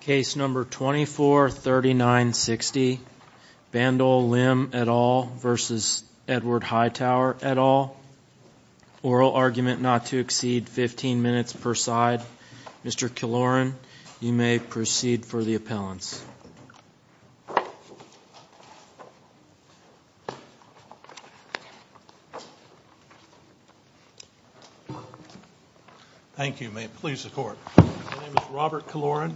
Case number 243960, Bandol Lim et al. v. Edward Hightower et al., oral argument not to exceed 15 minutes per side. Mr. Killoren, you may proceed for the appellants. Thank you. May it please the Court. My name is Robert Killoren.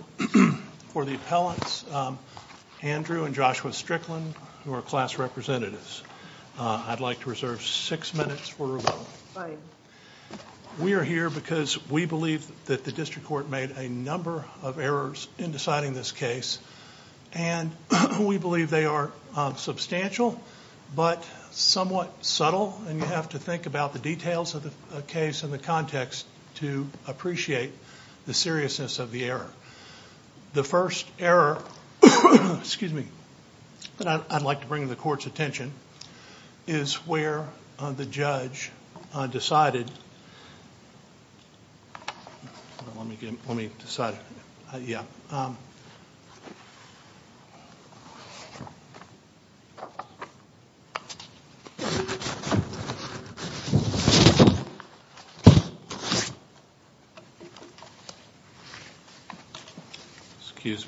For the appellants, Andrew and Joshua Strickland, who are class representatives, I'd like to reserve six minutes for review. We are here because we believe that the District Court made a number of errors in deciding this case, and we believe they are substantial but somewhat subtle, and you have to think about the details of the case and the context to appreciate the seriousness of the error. The first error that I'd like to bring to the Court's attention is where the judge decided Excuse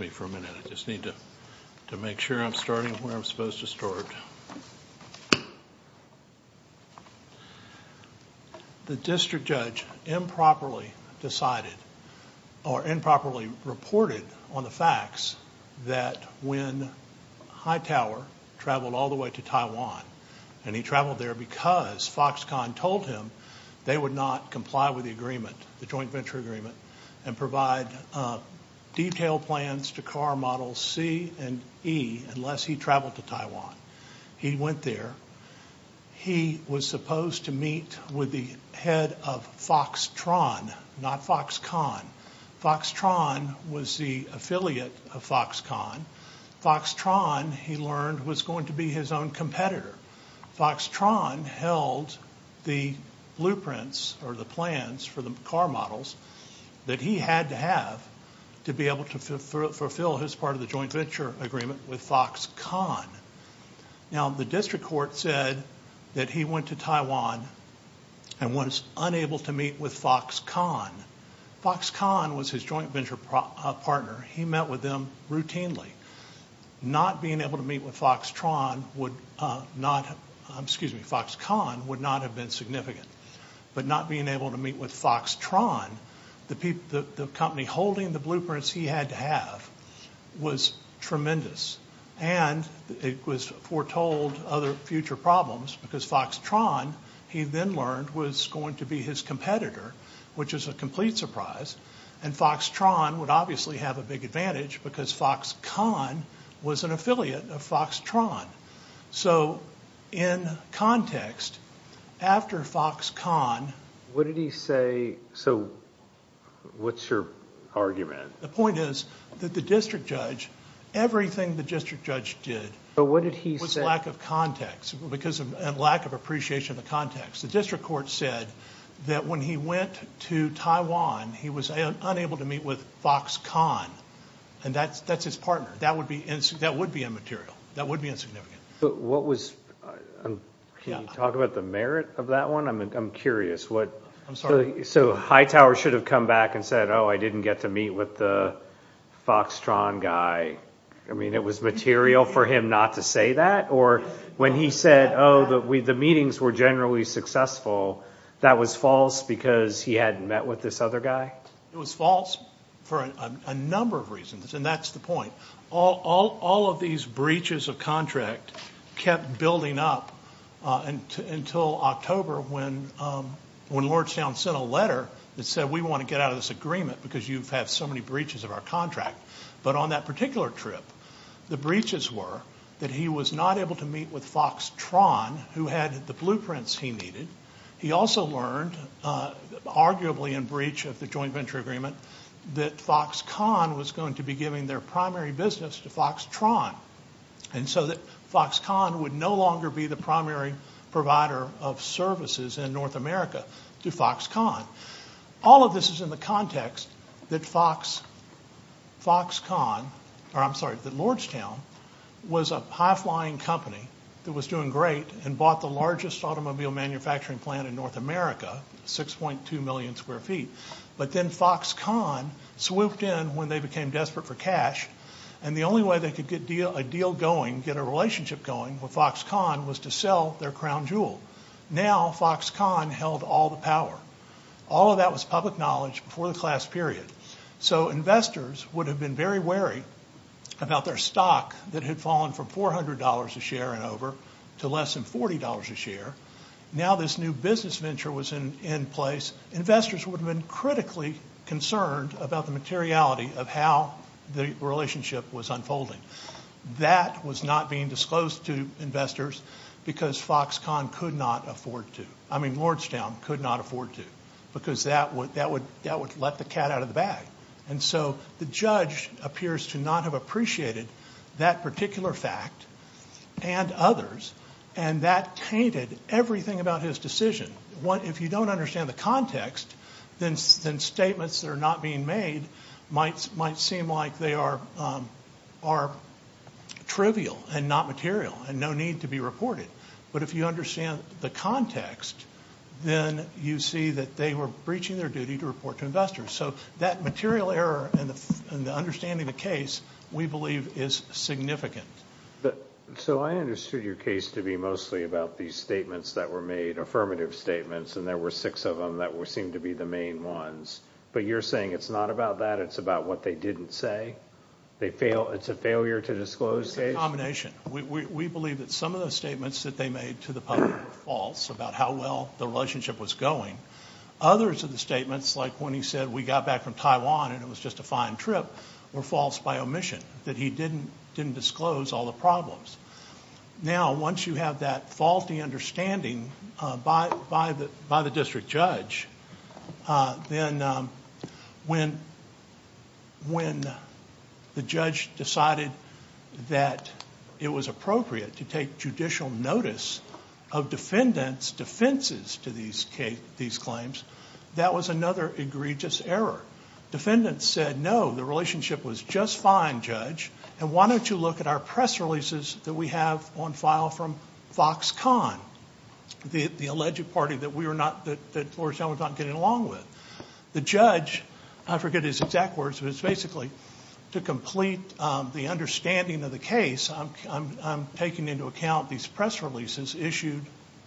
me for a minute. I just need to make sure I'm starting where I'm supposed to start. The district judge improperly decided or improperly reported on the facts that when Hightower traveled all the way to Taiwan, and he traveled there because Foxconn told him they would not comply with the agreement, the joint venture agreement, and provide detailed plans to car models C and E unless he traveled to Taiwan. He went there. He was supposed to meet with the head of Foxtron, not Foxconn. Foxtron was the affiliate of Foxconn. Foxtron, he learned, was going to be his own competitor. Foxtron held the blueprints or the plans for the car models that he had to have to be able to fulfill his part of the joint venture agreement with Foxconn. Now, the district court said that he went to Taiwan and was unable to meet with Foxconn. Foxconn was his joint venture partner. He met with them routinely. Not being able to meet with Foxconn would not have been significant, but not being able to meet with Foxtron, the company holding the blueprints he had to have, was tremendous, and it foretold other future problems because Foxtron, he then learned, was going to be his competitor, which is a complete surprise, and Foxtron would obviously have a big advantage because Foxconn was an affiliate of Foxtron. So, in context, after Foxconn— What did he say? So, what's your argument? The point is that the district judge, everything the district judge did was lack of context and lack of appreciation of the context. The district court said that when he went to Taiwan, he was unable to meet with Foxconn, and that's his partner. That would be immaterial. That would be insignificant. Can you talk about the merit of that one? I'm curious. I'm sorry? So, Hightower should have come back and said, oh, I didn't get to meet with the Foxtron guy. I mean, it was material for him not to say that? Or when he said, oh, the meetings were generally successful, that was false because he hadn't met with this other guy? It was false for a number of reasons, and that's the point. All of these breaches of contract kept building up until October when Lordstown sent a letter that said we want to get out of this agreement because you've had so many breaches of our contract. But on that particular trip, the breaches were that he was not able to meet with Foxtron, who had the blueprints he needed. He also learned, arguably in breach of the joint venture agreement, that Foxconn was going to be giving their primary business to Foxtron, and so that Foxconn would no longer be the primary provider of services in North America to Foxconn. All of this is in the context that Lordstown was a high-flying company that was doing great and bought the largest automobile manufacturing plant in North America, 6.2 million square feet. But then Foxconn swooped in when they became desperate for cash, and the only way they could get a deal going, get a relationship going with Foxconn, was to sell their crown jewel. Now Foxconn held all the power. All of that was public knowledge before the class period. So investors would have been very wary about their stock that had fallen from $400 a share and over to less than $40 a share. Now this new business venture was in place, investors would have been critically concerned about the materiality of how the relationship was unfolding. That was not being disclosed to investors because Lordstown could not afford to, because that would let the cat out of the bag. And so the judge appears to not have appreciated that particular fact and others, and that tainted everything about his decision. If you don't understand the context, then statements that are not being made might seem like they are trivial and not material and no need to be reported. But if you understand the context, then you see that they were breaching their duty to report to investors. So that material error and the understanding of the case, we believe, is significant. So I understood your case to be mostly about these statements that were made, and there were six of them that seemed to be the main ones. But you're saying it's not about that, it's about what they didn't say? It's a failure to disclose case? It's a combination. We believe that some of the statements that they made to the public were false, about how well the relationship was going. Others of the statements, like when he said, we got back from Taiwan and it was just a fine trip, were false by omission, that he didn't disclose all the problems. Now, once you have that faulty understanding by the district judge, then when the judge decided that it was appropriate to take judicial notice of defendants' defenses to these claims, that was another egregious error. Defendants said, no, the relationship was just fine, judge, and why don't you look at our press releases that we have on file from Foxconn, the alleged party that we were not getting along with. The judge, I forget his exact words, but it's basically to complete the understanding of the case, I'm taking into account these press releases issued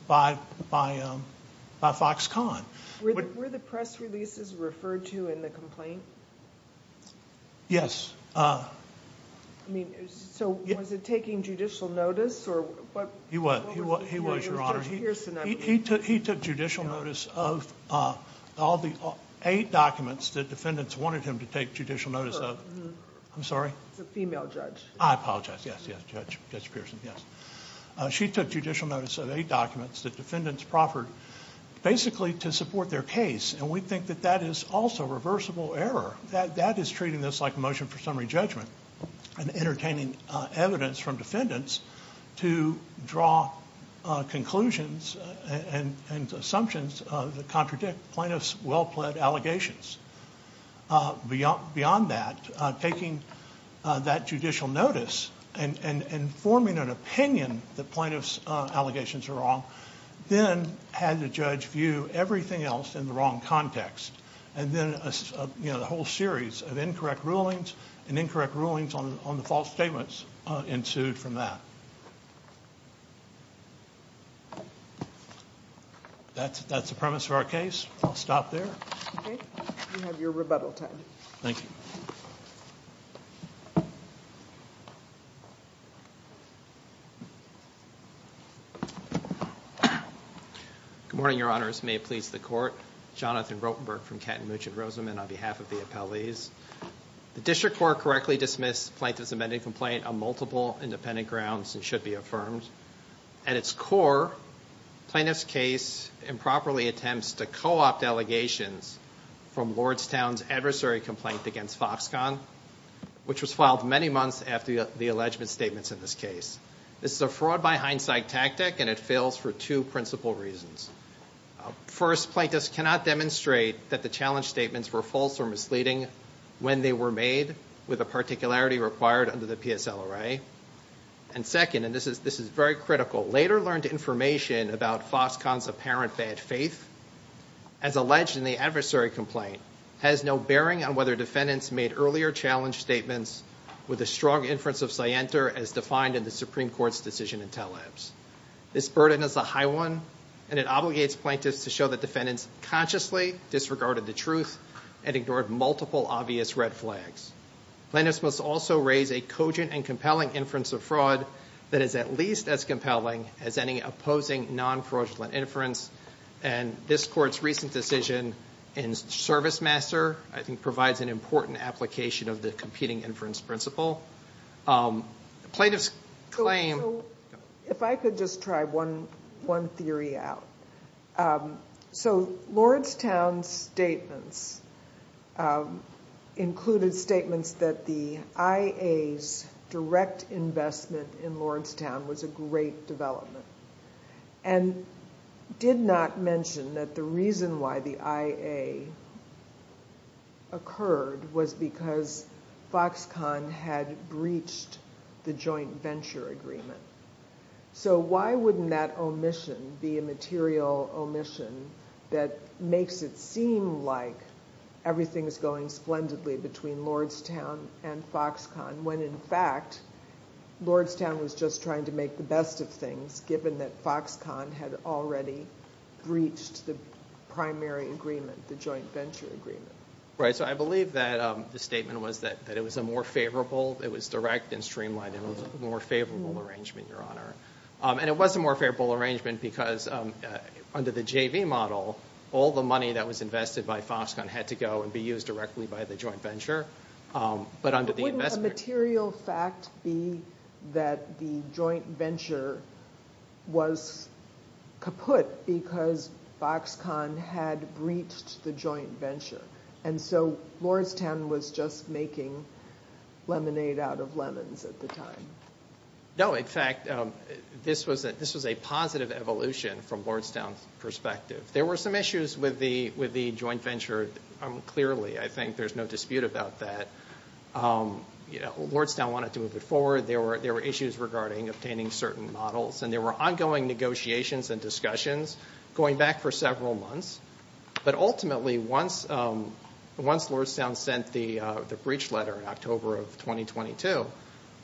by Foxconn. Were the press releases referred to in the complaint? Yes. So was it taking judicial notice? He was, Your Honor. He took judicial notice of all the eight documents that defendants wanted him to take judicial notice of. I'm sorry? It's a female judge. I apologize. Yes, yes, Judge Pearson, yes. She took judicial notice of eight documents that defendants proffered basically to support their case, and we think that that is also reversible error. That is treating this like a motion for summary judgment and entertaining evidence from defendants to draw conclusions and assumptions that contradict plaintiffs' well-pled allegations. Beyond that, taking that judicial notice and forming an opinion that plaintiffs' allegations are wrong, then had the judge view everything else in the wrong context, and then a whole series of incorrect rulings and incorrect rulings on the false statements ensued from that. That's the premise of our case. I'll stop there. Okay. You have your rebuttal time. Thank you. Good morning, Your Honors. May it please the Court. Jonathan Rotenberg from Kenton Mooch and Rosenman on behalf of the appellees. The district court correctly dismissed plaintiff's amended complaint on multiple independent grounds and should be affirmed. At its core, plaintiff's case improperly attempts to co-opt allegations from Lordstown's adversary complaint against Foxconn, which was filed many months after the allegement statements in this case. This is a fraud by hindsight tactic, and it fails for two principal reasons. First, plaintiffs cannot demonstrate that the challenge statements were false or misleading when they were made with a particularity required under the PSLRA. And second, and this is very critical, later learned information about Foxconn's apparent bad faith as alleged in the adversary complaint has no bearing on whether defendants made earlier challenge statements with a strong inference of scienter as defined in the Supreme Court's decision in Taleb's. This burden is a high one, and it obligates plaintiffs to show that defendants consciously disregarded the truth and ignored multiple obvious red flags. Plaintiffs must also raise a cogent and compelling inference of fraud that is at least as compelling as any opposing non-fraudulent inference, and this Court's recent decision in Servicemaster, I think, plaintiffs claim... If I could just try one theory out. So Laurentown's statements included statements that the IA's direct investment in Laurentown was a great development and did not mention that the reason why the IA occurred was because Foxconn had breached the joint venture agreement. So why wouldn't that omission be a material omission that makes it seem like everything is going splendidly between Laurentown and Foxconn, when in fact Laurentown was just trying to make the best of things given that Foxconn had already breached the primary agreement, the joint venture agreement? Right, so I believe that the statement was that it was a more favorable, it was direct and streamlined, it was a more favorable arrangement, Your Honor. And it was a more favorable arrangement because under the JV model, all the money that was invested by Foxconn had to go and be used directly by the joint venture, but under the investment... Wouldn't a material fact be that the joint venture was kaput because Foxconn had breached the joint venture and so Laurentown was just making lemonade out of lemons at the time? No, in fact, this was a positive evolution from Laurentown's perspective. There were some issues with the joint venture, clearly. I think there's no dispute about that. Laurentown wanted to move it forward. There were issues regarding obtaining certain models and there were ongoing negotiations and discussions going back for several months. But ultimately, once Laurentown sent the breach letter in October of 2022,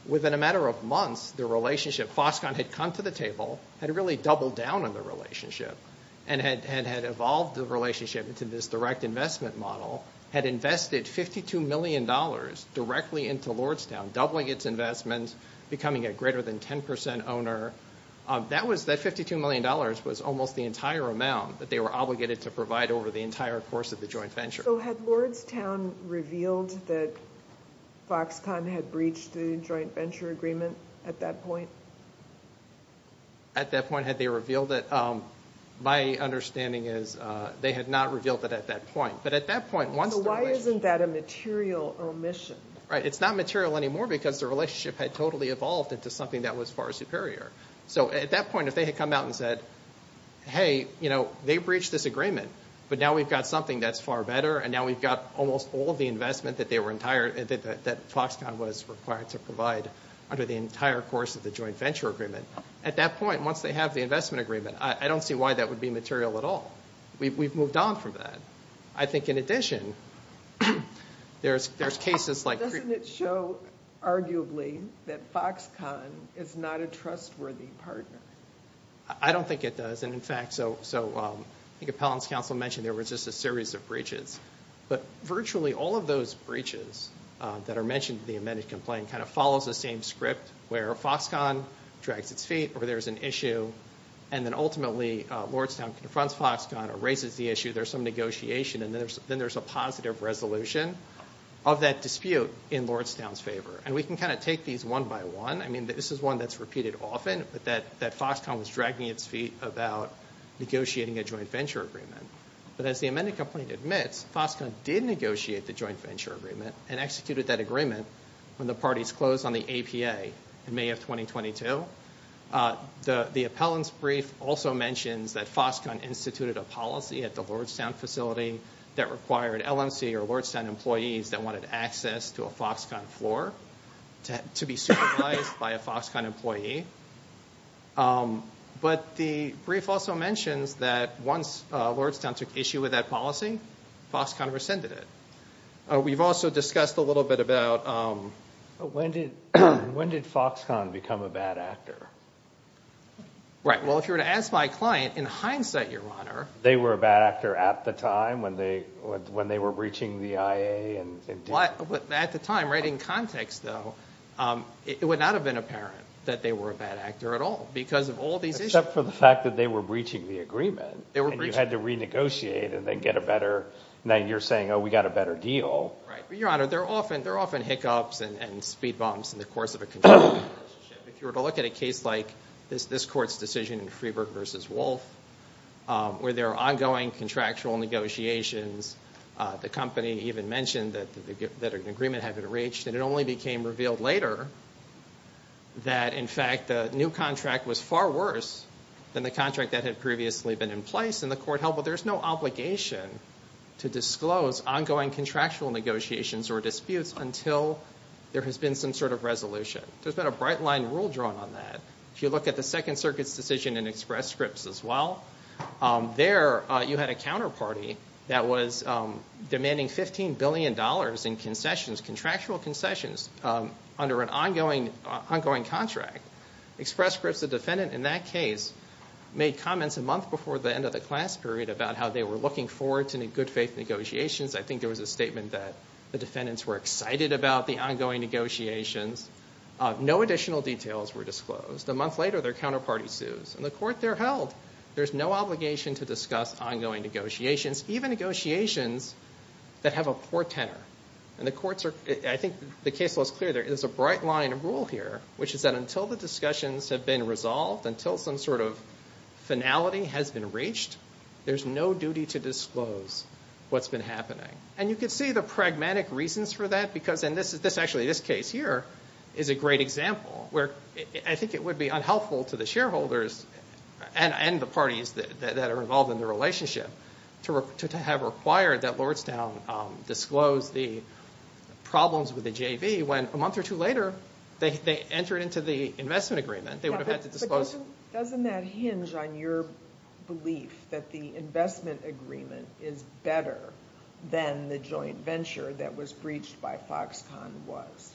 within a matter of months, the relationship, Foxconn had come to the table, had really doubled down on the relationship and had evolved the relationship into this direct investment model, had invested $52 million directly into Laurentown, doubling its investment, becoming a greater than 10% owner. That $52 million was almost the entire amount that they were obligated to provide over the entire course of the joint venture. So had Laurentown revealed that Foxconn had breached the joint venture agreement at that point? At that point, had they revealed it? My understanding is they had not revealed it at that point. So why isn't that a material omission? It's not material anymore because the relationship had totally evolved into something that was far superior. So at that point, if they had come out and said, hey, they breached this agreement, but now we've got something that's far better and now we've got almost all of the investment that Foxconn was required to provide under the entire course of the joint venture agreement. At that point, once they have the investment agreement, I don't see why that would be material at all. We've moved on from that. I think in addition, there's cases like... Doesn't it show, arguably, that Foxconn is not a trustworthy partner? I don't think it does. And in fact, so I think Appellant's counsel mentioned there was just a series of breaches. But virtually all of those breaches that are mentioned in the amended complaint kind of follows the same script where Foxconn drags its feet or there's an issue and then ultimately Laurentown confronts Foxconn or raises the issue, there's some negotiation, and then there's a positive resolution of that dispute in Laurentown's favor. And we can kind of take these one by one. I mean, this is one that's repeated often, but that Foxconn was dragging its feet about negotiating a joint venture agreement. But as the amended complaint admits, Foxconn did negotiate the joint venture agreement and executed that agreement when the parties closed on the APA in May of 2022. The Appellant's brief also mentions that Foxconn instituted a policy at the Laurentown facility that required LMC or Laurentown employees that wanted access to a Foxconn floor to be supervised by a Foxconn employee. But the brief also mentions that once Laurentown took issue with that policy, Foxconn rescinded it. We've also discussed a little bit about... When did Foxconn become a bad actor? Right. Well, if you were to ask my client, in hindsight, Your Honor... They were a bad actor at the time when they were breaching the IA? At the time, right in context, though, it would not have been apparent that they were a bad actor at all because of all these issues. Except for the fact that they were breaching the agreement. They were breaching. And you had to renegotiate and then get a better, now you're saying, oh, we got a better deal. Right. Your Honor, there are often hiccups and speed bumps in the course of a contractual relationship. If you were to look at a case like this court's decision in Freeburg v. Wolf, where there are ongoing contractual negotiations, the company even mentioned that an agreement had been reached and it only became revealed later that, in fact, the new contract was far worse than the contract that had previously been in place and the court held that there's no obligation to disclose ongoing contractual negotiations or disputes until there has been some sort of resolution. There's been a bright line rule drawn on that. If you look at the Second Circuit's decision in Express Scripts as well, there you had a counterparty that was demanding $15 billion in concessions, contractual concessions, under an ongoing contract. Express Scripts, the defendant in that case, made comments a month before the end of the class period about how they were looking forward to the good faith negotiations. I think there was a statement that the defendants were excited about the ongoing negotiations. No additional details were disclosed. A month later, their counterparty sues, and the court there held there's no obligation to discuss ongoing negotiations, even negotiations that have a poor tenor. I think the case was clear. There is a bright line rule here, which is that until the discussions have been resolved, until some sort of finality has been reached, there's no duty to disclose what's been happening. And you could see the pragmatic reasons for that, because in this case here is a great example, where I think it would be unhelpful to the shareholders and the parties that are involved in the relationship to have required that Lordstown disclose the problems with the JV when a month or two later they entered into the investment agreement. Doesn't that hinge on your belief that the investment agreement is better than the joint venture that was breached by Foxconn was?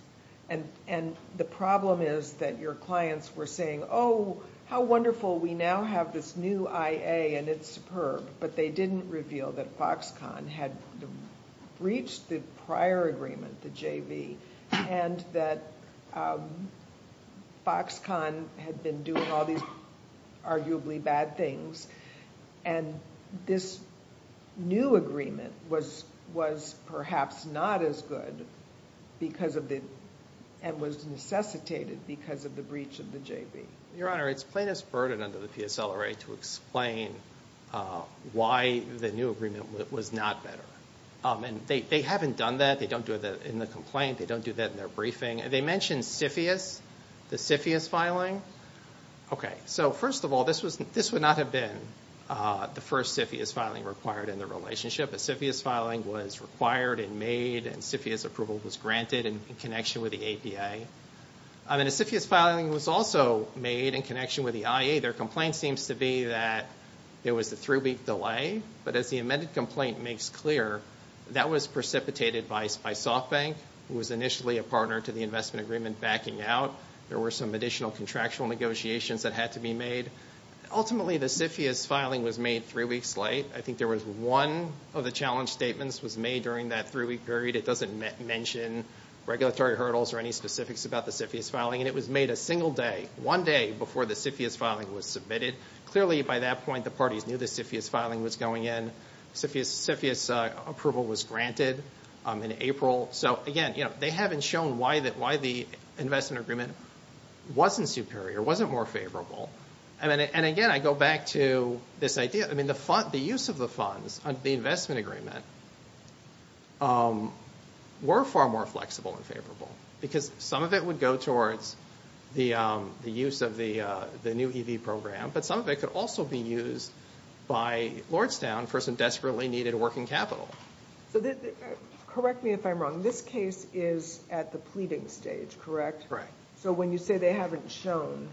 And the problem is that your clients were saying, oh, how wonderful, we now have this new IA and it's superb, but they didn't reveal that Foxconn had breached the prior agreement, the JV, and that Foxconn had been doing all these arguably bad things and this new agreement was perhaps not as good and was necessitated because of the breach of the JV. Your Honor, it's plain as burden under the PSLRA to explain why the new agreement was not better. They haven't done that. They don't do that in the complaint. They don't do that in their briefing. They mentioned CFIUS, the CFIUS filing. First of all, this would not have been the first CFIUS filing required in the relationship. A CFIUS filing was required and made, and CFIUS approval was granted in connection with the APA. A CFIUS filing was also made in connection with the IA. Their complaint seems to be that there was a three-week delay, but as the amended complaint makes clear, that was precipitated by SoftBank, who was initially a partner to the investment agreement backing out. There were some additional contractual negotiations that had to be made. Ultimately, the CFIUS filing was made three weeks late. I think there was one of the challenge statements was made during that three-week period. It doesn't mention regulatory hurdles or any specifics about the CFIUS filing, and it was made a single day, one day before the CFIUS filing was submitted. Clearly, by that point, the parties knew the CFIUS filing was going in. CFIUS approval was granted in April. Again, they haven't shown why the investment agreement wasn't superior, wasn't more favorable. Again, I go back to this idea. The use of the funds under the investment agreement were far more flexible and favorable because some of it would go towards the use of the new EV program, but some of it could also be used by Lordstown for some desperately needed working capital. Correct me if I'm wrong. This case is at the pleading stage, correct? Correct. When you say they haven't shown,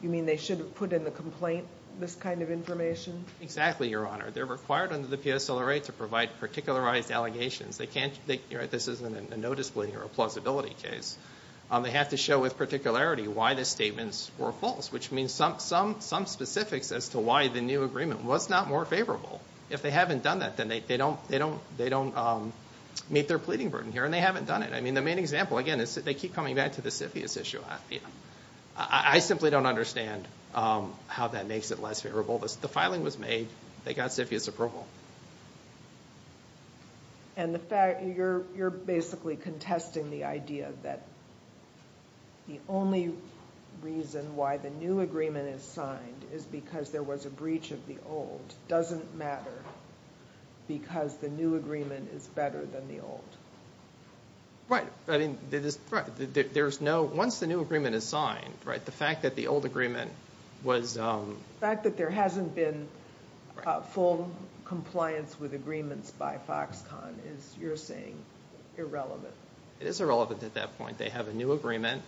you mean they shouldn't put in the complaint this kind of information? Exactly, Your Honor. They're required under the PSLRA to provide particularized allegations. This isn't a no-disbelief or a plausibility case. They have to show with particularity why the statements were false, which means some specifics as to why the new agreement was not more favorable. If they haven't done that, then they don't meet their pleading burden here, and they haven't done it. The main example, again, is they keep coming back to the CFIUS issue. I simply don't understand how that makes it less favorable. The filing was made. They got CFIUS approval. You're basically contesting the idea that the only reason why the new agreement is signed is because there was a breach of the old. It doesn't matter because the new agreement is better than the old. Right. Once the new agreement is signed, the fact that the old agreement was— The fact that there hasn't been full compliance with agreements by Foxconn is, you're saying, irrelevant. It is irrelevant at that point. They have a new agreement.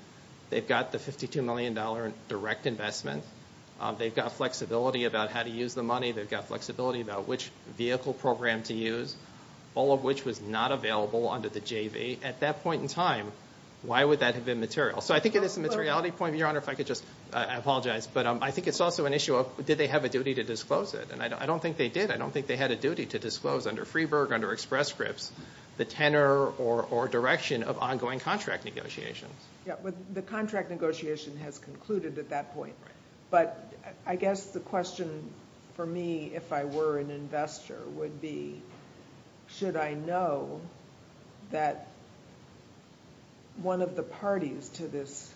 They've got the $52 million direct investment. They've got flexibility about how to use the money. They've got flexibility about which vehicle program to use, all of which was not available under the JV. At that point in time, why would that have been material? I think it is a materiality point, Your Honor, if I could just apologize, but I think it's also an issue of did they have a duty to disclose it. I don't think they did. I don't think they had a duty to disclose under Freeberg, under Express Scripts, the tenor or direction of ongoing contract negotiations. Yeah, but the contract negotiation has concluded at that point. Right. But I guess the question for me if I were an investor would be should I know that one of the parties to this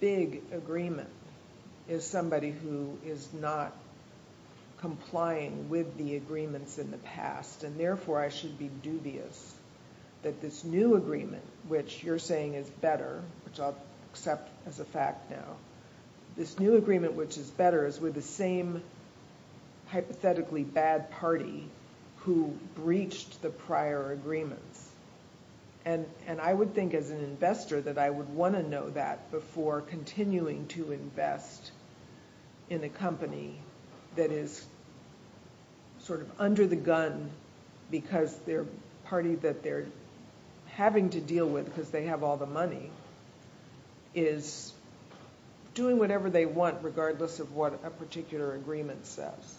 big agreement is somebody who is not complying with the agreements in the past, and therefore I should be dubious that this new agreement, which you're saying is better, which I'll accept as a fact now, this new agreement which is better is with the same hypothetically bad party who breached the prior agreements. And I would think as an investor that I would want to know that continuing to invest in a company that is sort of under the gun because their party that they're having to deal with because they have all the money is doing whatever they want regardless of what a particular agreement says.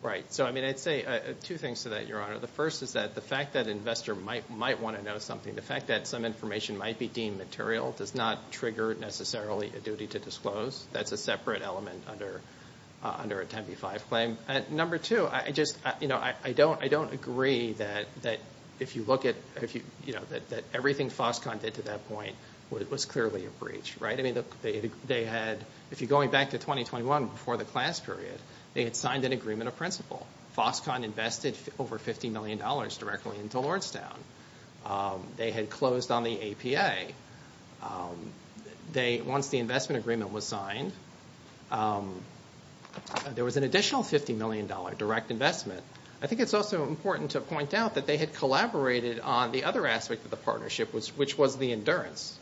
Right. So, I mean, I'd say two things to that, Your Honor. The first is that the fact that an investor might want to know something, the fact that some information might be deemed material does not trigger necessarily a duty to disclose. That's a separate element under a 10b-5 claim. And number two, I just, you know, I don't agree that if you look at, you know, that everything Foxconn did to that point was clearly a breach. Right. I mean, they had, if you're going back to 2021 before the class period, they had signed an agreement of principle. Foxconn invested over $50 million directly into Lordstown. They had closed on the APA. Once the investment agreement was signed, there was an additional $50 million direct investment. I think it's also important to point out that they had collaborated on the other aspect of the partnership, which was the endurance.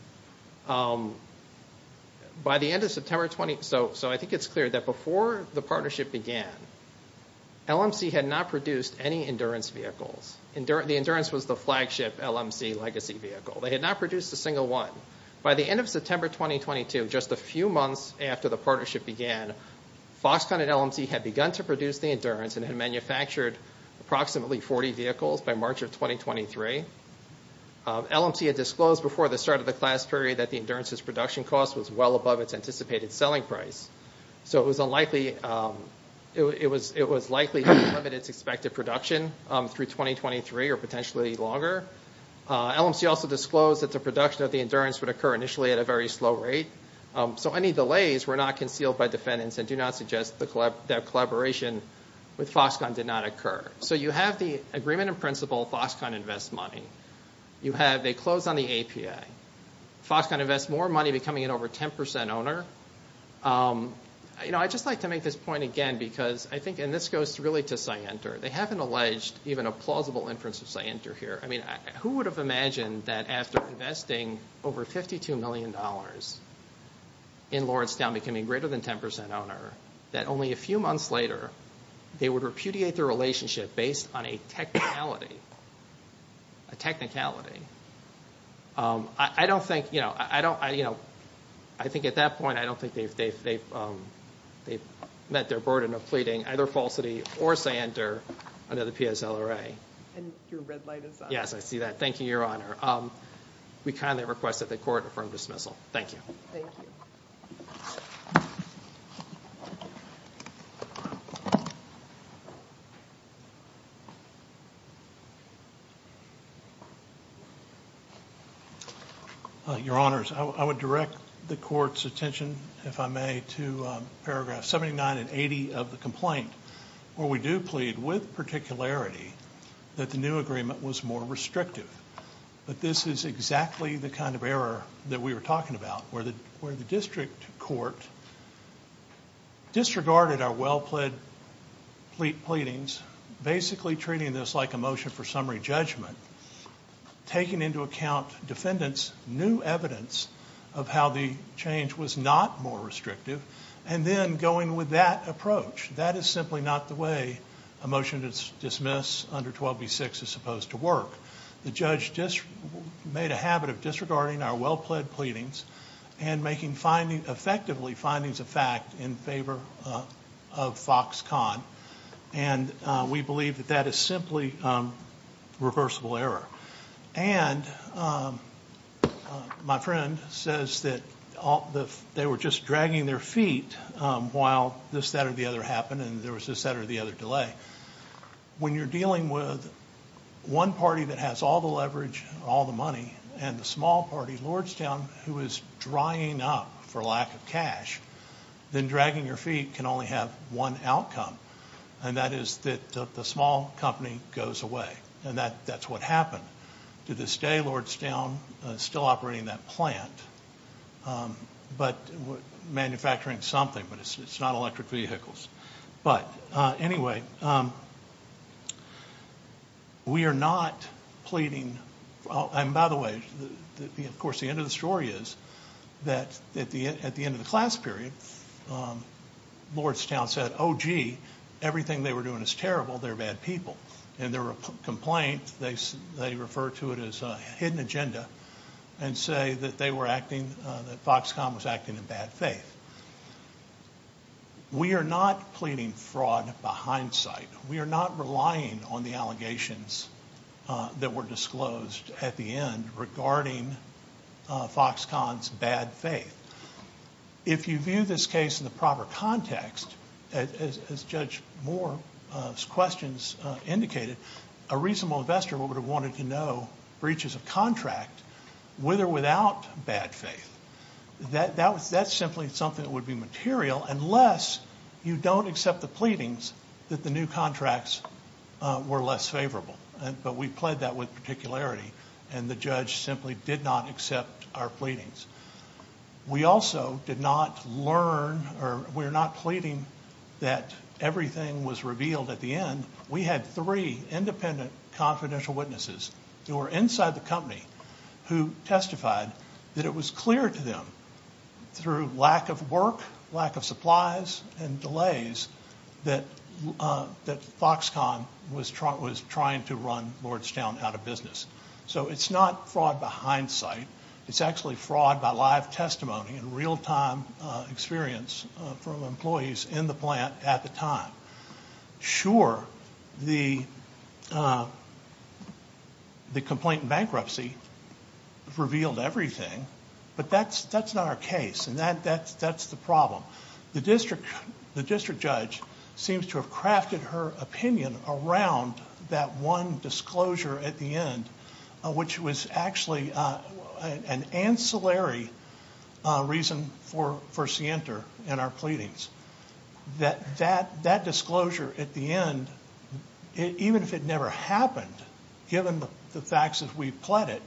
By the end of September 20, so I think it's clear that before the partnership began, LMC had not produced any endurance vehicles. The endurance was the flagship LMC legacy vehicle. They had not produced a single one. By the end of September 2022, just a few months after the partnership began, Foxconn and LMC had begun to produce the endurance and had manufactured approximately 40 vehicles by March of 2023. LMC had disclosed before the start of the class period that the endurance's production cost was well above its anticipated selling price. So it was unlikely to limit its expected production through 2023 or potentially longer. LMC also disclosed that the production of the endurance would occur initially at a very slow rate. So any delays were not concealed by defendants and do not suggest that collaboration with Foxconn did not occur. So you have the agreement of principle, Foxconn invests money. You have they closed on the APA. Foxconn invests more money, becoming an over 10% owner. You know, I'd just like to make this point again because I think, and this goes really to Scienter, they haven't alleged even a plausible inference of Scienter here. I mean, who would have imagined that after investing over $52 million in Lawrence Town becoming greater than 10% owner, that only a few months later they would repudiate their relationship based on a technicality, a technicality. I don't think, you know, I think at that point, I don't think they've met their burden of pleading either falsity or Scienter under the PSLRA. And your red light is on. Yes, I see that. Thank you, Your Honor. We kindly request that the court affirm dismissal. Thank you. Thank you. Your Honors, I would direct the court's attention, if I may, to paragraph 79 and 80 of the complaint where we do plead with particularity that the new agreement was more restrictive. But this is exactly the kind of error that we were talking about where the district court disregarded our well-plead pleadings, basically treating this like a motion for summary judgment, taking into account defendants' new evidence of how the change was not more restrictive, and then going with that approach. That is simply not the way a motion to dismiss under 12b-6 is supposed to work. The judge just made a habit of disregarding our well-plead pleadings and making effectively findings of fact in favor of Foxconn. And we believe that that is simply reversible error. And my friend says that they were just dragging their feet while this, that, or the other happened, and there was this, that, or the other delay. When you're dealing with one party that has all the leverage, all the money, and the small party, Lordstown, who is drying up for lack of cash, then dragging your feet can only have one outcome, and that is that the small company goes away. And that's what happened. To this day, Lordstown is still operating that plant, manufacturing something, but it's not electric vehicles. But anyway, we are not pleading. And by the way, of course, the end of the story is that at the end of the class period, Lordstown said, oh, gee, everything they were doing is terrible, they're bad people. And their complaint, they refer to it as a hidden agenda and say that they were acting, that Foxconn was acting in bad faith. We are not pleading fraud behind sight. We are not relying on the allegations that were disclosed at the end regarding Foxconn's bad faith. If you view this case in the proper context, as Judge Moore's questions indicated, a reasonable investor would have wanted to know breaches of contract, with or without bad faith. That's simply something that would be material unless you don't accept the pleadings that the new contracts were less favorable. But we played that with particularity, and the judge simply did not accept our pleadings. We also did not learn or we are not pleading that everything was revealed at the end. We had three independent confidential witnesses who were inside the company who testified that it was clear to them through lack of work, lack of supplies, and delays that Foxconn was trying to run Lordstown out of business. So it's not fraud behind sight. It's actually fraud by live testimony and real-time experience from employees in the plant at the time. Sure, the complaint in bankruptcy revealed everything, but that's not our case, and that's the problem. Now, the district judge seems to have crafted her opinion around that one disclosure at the end, which was actually an ancillary reason for scienter in our pleadings. That disclosure at the end, even if it never happened, given the facts as we've pled it,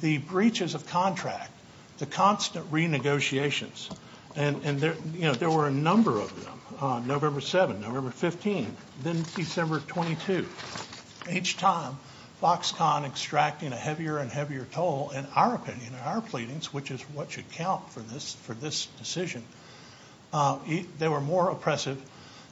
the breaches of contract, the constant renegotiations, and there were a number of them. November 7, November 15, then December 22. Each time, Foxconn extracting a heavier and heavier toll, in our opinion, in our pleadings, which is what should count for this decision, they were more oppressive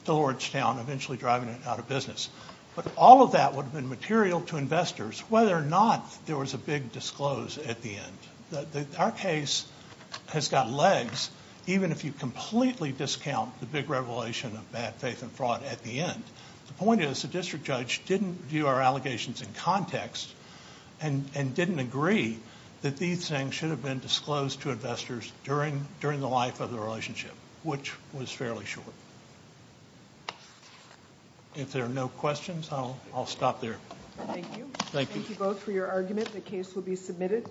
to Lordstown, eventually driving it out of business. But all of that would have been material to investors, whether or not there was a big disclose at the end. Our case has got legs, even if you completely discount the big revelation of bad faith and fraud at the end. The point is, the district judge didn't view our allegations in context and didn't agree that these things should have been disclosed to investors during the life of the relationship, which was fairly short. If there are no questions, I'll stop there. Thank you. Thank you both for your argument. The case will be submitted.